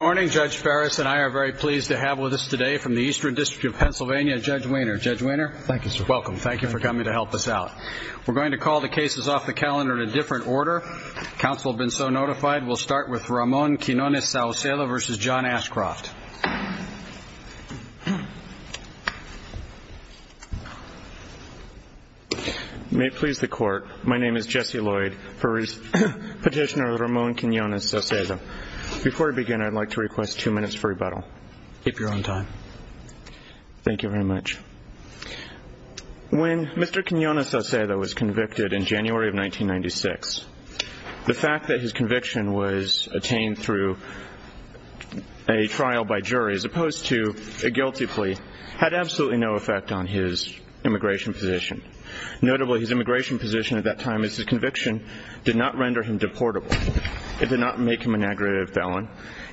Good morning, Judge Ferris and I are very pleased to have with us today from the Eastern District of Pennsylvania, Judge Wehner. Judge Wehner, welcome. Thank you for coming to help us out. We're going to call the cases off the calendar in a different order. Counsel have been so notified. We'll start with Ramon Quinones-Saucedo v. John Ashcroft. May it please the Court, my name is Jesse Lloyd, Petitioner of Ramon Quinones-Saucedo. Before we begin, I'd like to request two minutes for rebuttal. Keep your own time. Thank you very much. When Mr. Quinones-Saucedo was convicted in January of 1996, the fact that his conviction was attained through a trial by jury as opposed to a guilty plea had absolutely no effect on his immigration position. Notably, his immigration position at that time as his conviction did not render him deportable. It did not make him an aggravated felon.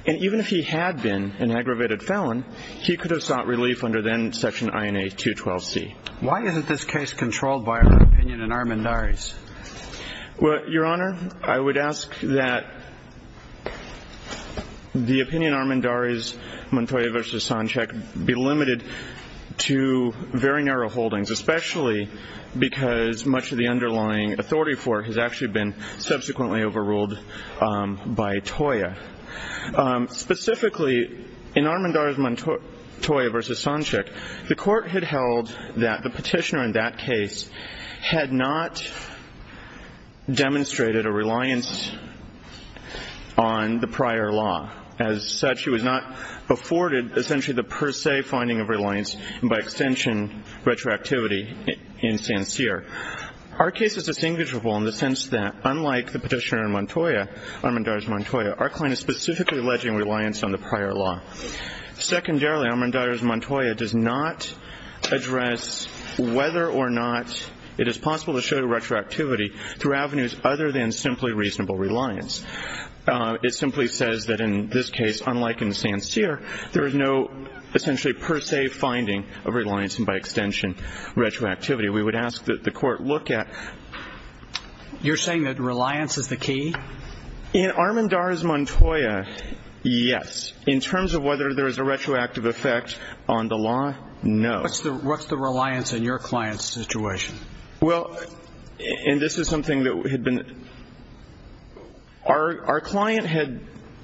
And even if he had been an aggravated felon, he could have sought relief under then Section INA 212C. Why isn't this case controlled by our opinion in Armendariz? Well, Your Honor, I would ask that the opinion in Armendariz, Montoya v. Sanchek, be limited to very narrow holdings, especially because much of the underlying authority for it has actually been subsequently overruled by Toya. Specifically, in Armendariz, Montoya v. Sanchek, the Court had held that the petitioner in that case had not demonstrated a reliance on the prior law. As such, he was not afforded essentially the per se finding of reliance and by extension retroactivity in Sanchear. Our case is distinguishable in the sense that unlike the petitioner in Montoya, Armendariz, Montoya, our client is specifically alleging reliance on the prior law. Secondarily, Armendariz, Montoya does not address whether or not it is possible to show retroactivity through avenues other than simply reasonable reliance. It simply says that in this case, unlike in Sanchear, there is no essentially per se finding of reliance and by extension retroactivity. We would ask that the Court look at ---- You're saying that reliance is the key? In Armendariz, Montoya, yes. In terms of whether there is a retroactive effect on the law, no. What's the reliance in your client's situation? Well, and this is something that had been ---- Our client had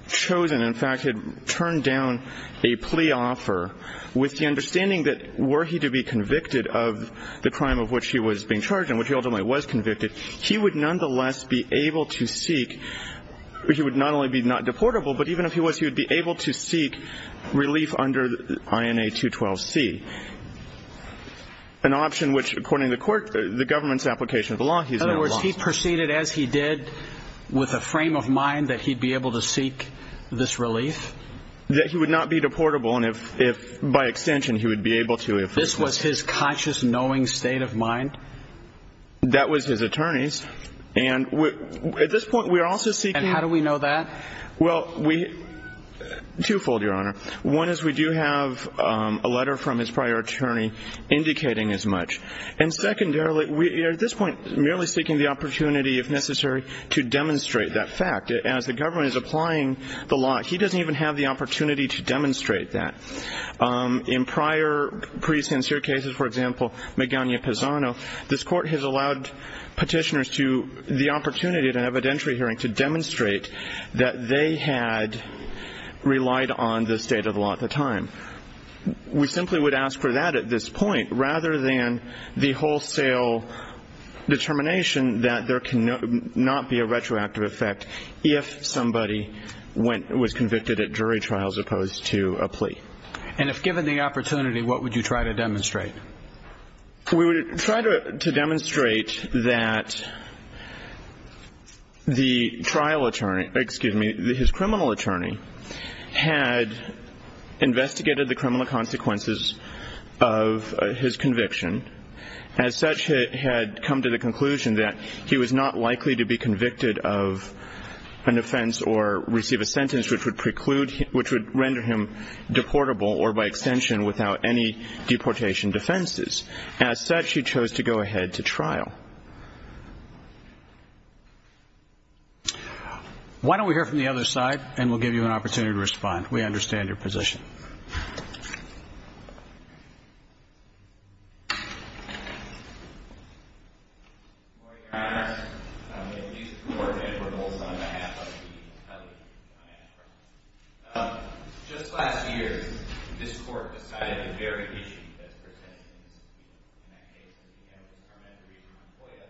chosen, in fact, had turned down a plea offer with the understanding that were he to be convicted of the crime of which he was being charged and which he ultimately was convicted, he would nonetheless be able to seek ---- he would not only be not deportable, but even if he was, he would be able to seek relief under INA 212C, an option which, according to the Court, the government's application of the law ---- In other words, he proceeded as he did with a frame of mind that he'd be able to seek this relief? That he would not be deportable and if by extension he would be able to if ---- This was his conscious, knowing state of mind? That was his attorney's and at this point we are also seeking ---- And how do we know that? Well, we ---- twofold, Your Honor. One is we do have a letter from his prior attorney indicating as much. And secondarily, we are at this point merely seeking the opportunity, if necessary, to demonstrate that fact. As the government is applying the law, he doesn't even have the opportunity to demonstrate that. In prior pre-sincere cases, for example, Magana-Pisano, this Court has allowed petitioners the opportunity at an evidentiary hearing to demonstrate that they had relied on the state of the law at the time. We simply would ask for that at this point rather than the wholesale determination that there cannot be a retroactive effect if somebody went ---- was convicted at jury trial as opposed to a plea. And if given the opportunity, what would you try to demonstrate? We would try to demonstrate that the trial attorney ---- excuse me, his criminal attorney had investigated the criminal consequences of his conviction. As such, had come to the conclusion that he was not likely to be convicted of an offense or receive a sentence which would preclude ---- which would render him deportable or by extension without any deportation defenses. As such, he chose to go ahead to trial. Why don't we hear from the other side and we'll give you an opportunity to respond. We understand your position. Good morning, Your Honor. I'm going to introduce the Court and for the whole time I have, I'll be telling you what I have. Just last year, this Court decided the very issue that's presented in this case. In that case, we have the Torment of Reuben Montoya.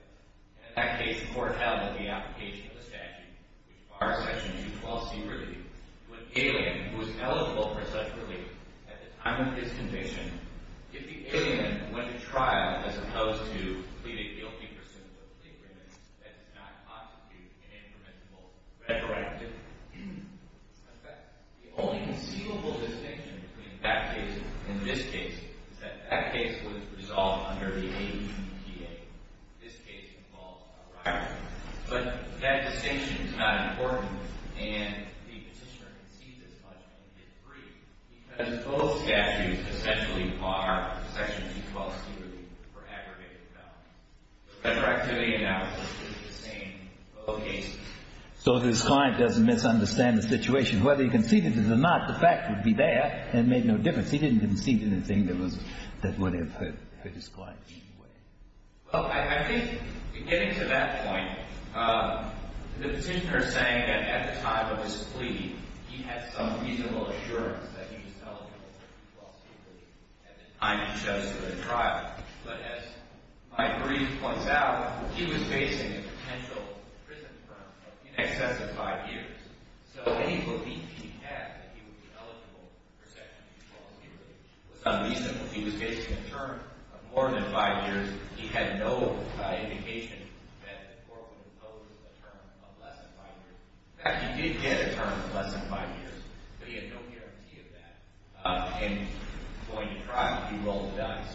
In that case, the Court held that the application of the statute would bar Section 212C relief when the alien who was eligible for such relief at the time of his conviction, if the alien went to trial as opposed to pleading guilty for symptoms of a particular illness that did not constitute an impermissible retroactive effect. The only conceivable distinction between that case and this case is that that case was resolved under the APTA. This case involves a riot. But that distinction is not important and the Petitioner concedes as much in this brief because both statutes essentially bar Section 212C relief for aggravated felony. The retroactivity analysis is the same in both cases. So if his client doesn't misunderstand the situation, whether he conceded it or not, the fact would be there and it made no difference. He didn't concede to the thing that would have hit his client. Well, I think getting to that point, the Petitioner is saying that at the time of his plea, he had some reasonable assurance that he was eligible for Section 212C relief at the time he chose to go to trial. But as my brief points out, he was facing a potential prison term of in excess of five years. So any belief he had that he would be eligible for Section 212C relief was unreasonable. He was facing a term of more than five years. He had no indication that the court would impose a term of less than five years. In fact, he did get a term of less than five years, but he had no guarantee of that. And going to trial, he rolled the dice.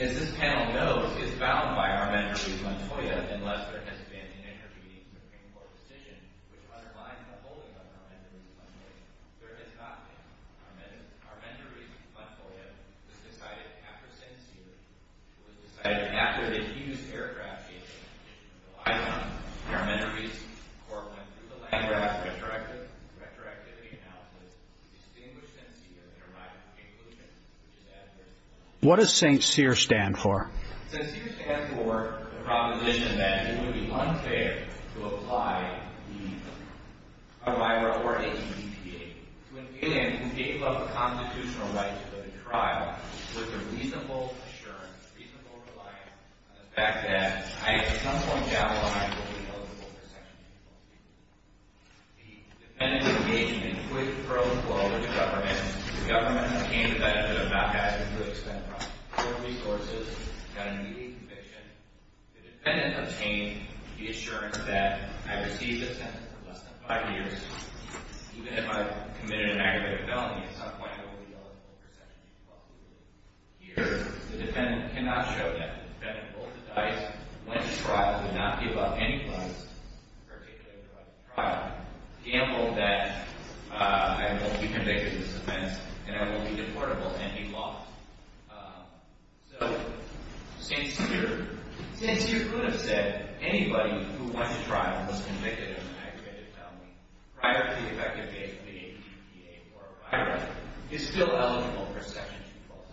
As this panel knows, it's bound by Armendariz-Montoya, unless there has been an intervening Supreme Court decision which underlines the holding of Armendariz-Montoya. There has not been. Armendariz-Montoya was decided after St. Cyr. It was decided after they had used aircraft changing conditions in Hawaii. Armendariz-Montoya went through the Landgraf Retroactivity Analysis to distinguish St. Cyr and arrive at the conclusion which is adverse to the law. What does St. Cyr stand for? St. Cyr stands for the proposition that it would be unfair to apply the to an alien who gave up the constitutional right to go to trial with a reasonable assurance, a reasonable reliance on the fact that I at some point down the line would be eligible for Section 240. The defendant engaged in a quick pro-flawless government. The government obtained the benefit of not having to expend federal resources, got an immediate conviction. The defendant obtained the assurance that I received a sentence for less than five years. Even if I committed an aggravated felony, at some point I would be eligible for Section 240. Here, the defendant cannot show that. The defendant holds the dice. Went to trial. Did not give up any funds, particularly over the trial. The amble of that, I will be convicted of this offense and I will be deportable and be lost. So, St. Cyr could have said anybody who went to trial and was convicted of an aggravated felony prior to the effective date of the APTA or FIRA is still eligible for Section 240.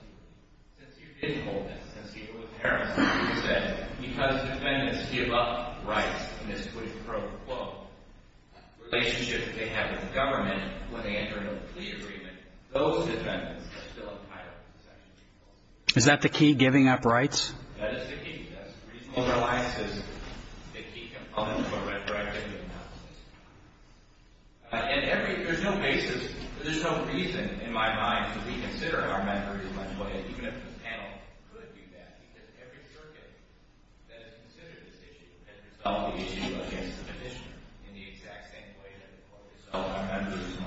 Since you didn't hold this, since you were a parent, you could have said because defendants give up rights in this quick pro-flaw relationship that they have with the government when they enter into a plea agreement, those defendants are still entitled to Section 240. Is that the key, giving up rights? That is the key. That's the reason why there are licenses. They're key components of a retroactive legal process. And every – there's no basis, there's no reason in my mind to reconsider our members' monthly – even if the panel could do that because every circuit that has considered this issue has resolved the issue against the petitioner in the exact same way that the court resolved our members' monthly.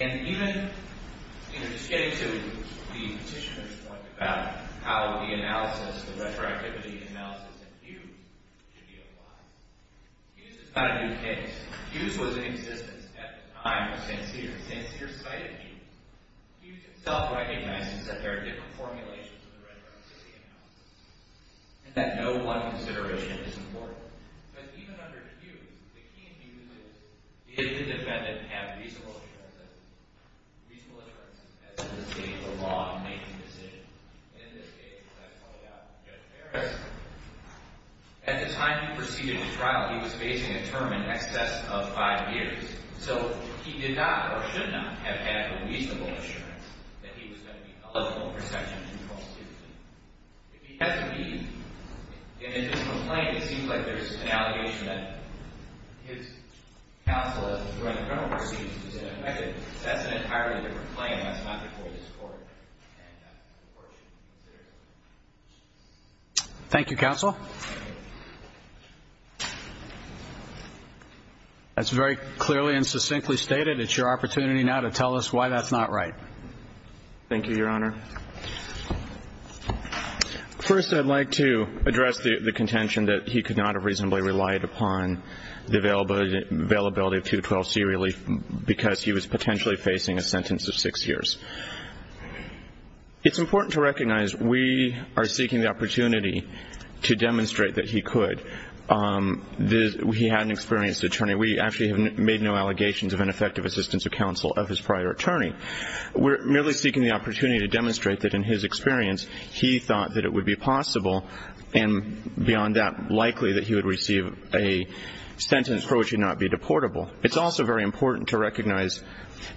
And even, you know, just getting to the petitioner's point about how the analysis, the retroactivity analysis in Hughes should be applied. Hughes is not a new case. Hughes was in existence at the time of St. Cyr. St. Cyr cited Hughes. Hughes himself recognizes that there are different formulations of the retroactivity analysis and that no one consideration is important. But even under Hughes, the key in Hughes is, did the defendant have reasonable assurance that – reasonable assurance as to the state of the law in making the decision? And in this case, as I called out Judge Harris, at the time he proceeded the trial, he was facing a term in excess of five years. So he did not or should not have had a reasonable assurance that he was going to be eligible for Section 240. If he has to be in a different claim, it seems like there's an allegation that his counsel during the criminal proceedings is ineffective. That's an entirely different claim. That's not before this Court. Thank you, Counsel. That's very clearly and succinctly stated. It's your opportunity now to tell us why that's not right. Thank you, Your Honor. First, I'd like to address the contention that he could not have reasonably relied upon the availability of 212C relief because he was potentially facing a sentence of six years. It's important to recognize we are seeking the opportunity to demonstrate that he could. He had an experienced attorney. We actually have made no allegations of ineffective assistance of counsel of his prior attorney. We're merely seeking the opportunity to demonstrate that, in his experience, he thought that it would be possible and, beyond that, likely that he would receive a sentence for which he would not be deportable. It's also very important to recognize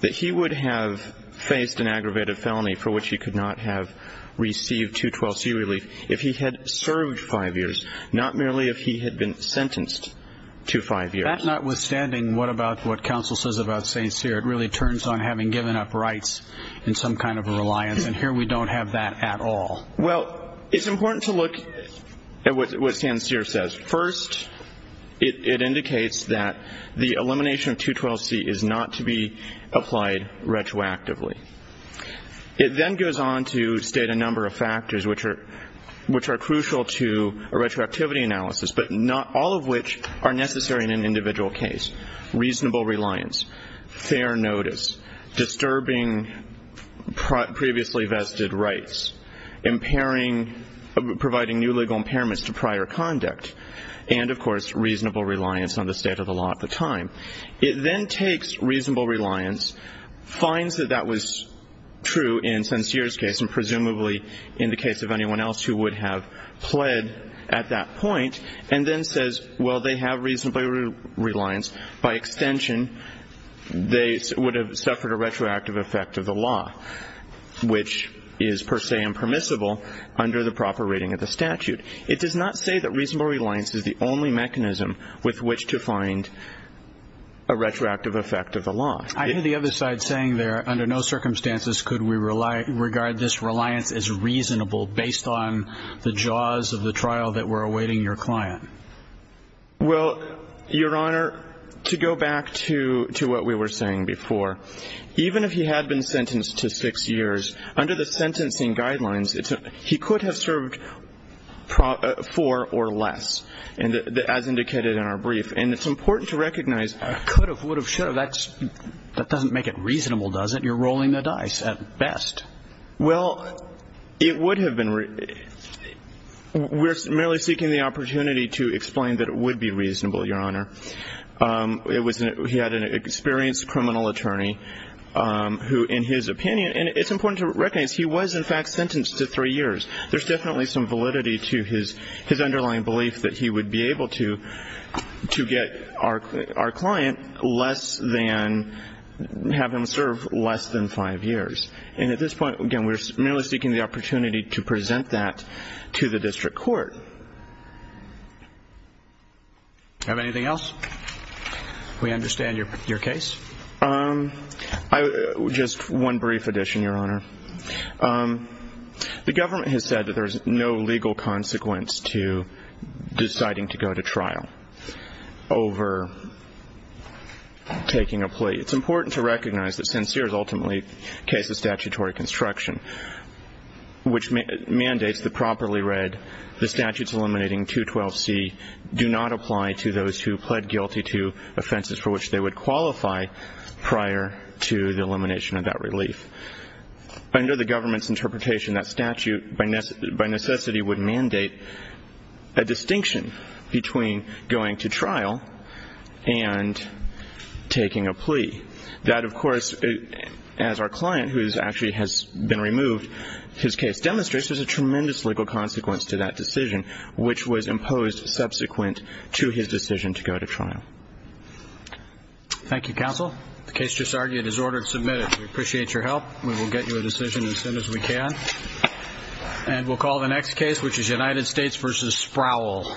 that he would have faced an aggravated felony for which he could not have received 212C relief if he had served five years, not merely if he had been sentenced to five years. That notwithstanding, what about what counsel says about St. Cyr? It really turns on having given up rights in some kind of a reliance, and here we don't have that at all. Well, it's important to look at what St. Cyr says. First, it indicates that the elimination of 212C is not to be applied retroactively. It then goes on to state a number of factors which are crucial to a retroactivity analysis, but not all of which are necessary in an individual case. Reasonable reliance, fair notice, disturbing previously vested rights, providing new legal impairments to prior conduct, and, of course, reasonable reliance on the state of the law at the time. It then takes reasonable reliance, finds that that was true in St. Cyr's case and presumably in the case of anyone else who would have pled at that point, and then says, well, they have reasonable reliance, by extension they would have suffered a retroactive effect of the law, which is per se impermissible under the proper rating of the statute. It does not say that reasonable reliance is the only mechanism with which to find a retroactive effect of the law. I hear the other side saying there, under no circumstances could we regard this reliance as reasonable based on the jaws of the trial that were awaiting your client. Well, Your Honor, to go back to what we were saying before, even if he had been sentenced to six years, under the sentencing guidelines, he could have served four or less, as indicated in our brief. And it's important to recognize... I could have, would have, should have. That doesn't make it reasonable, does it? You're rolling the dice at best. Well, it would have been. We're merely seeking the opportunity to explain that it would be reasonable, Your Honor. He had an experienced criminal attorney who, in his opinion, and it's important to recognize he was, in fact, sentenced to three years. There's definitely some validity to his underlying belief that he would be able to get our client less than, have him serve less than five years. And at this point, again, we're merely seeking the opportunity to present that to the district court. Do you have anything else? We understand your case. Just one brief addition, Your Honor. The government has said that there's no legal consequence to deciding to go to trial over taking a plea. It's important to recognize that Sincere is ultimately a case of statutory construction, which mandates the properly read, the statutes eliminating 212C do not apply to those who pled guilty to offenses for which they would qualify prior to the elimination of that relief. Under the government's interpretation, that statute by necessity would mandate a distinction between going to trial and taking a plea. That, of course, as our client, who actually has been removed, his case demonstrates there's a tremendous legal consequence to that decision, which was imposed subsequent to his decision to go to trial. Thank you, counsel. The case just argued is ordered submitted. We appreciate your help. We will get you a decision as soon as we can. And we'll call the next case, which is United States v. Sproul. Thank you.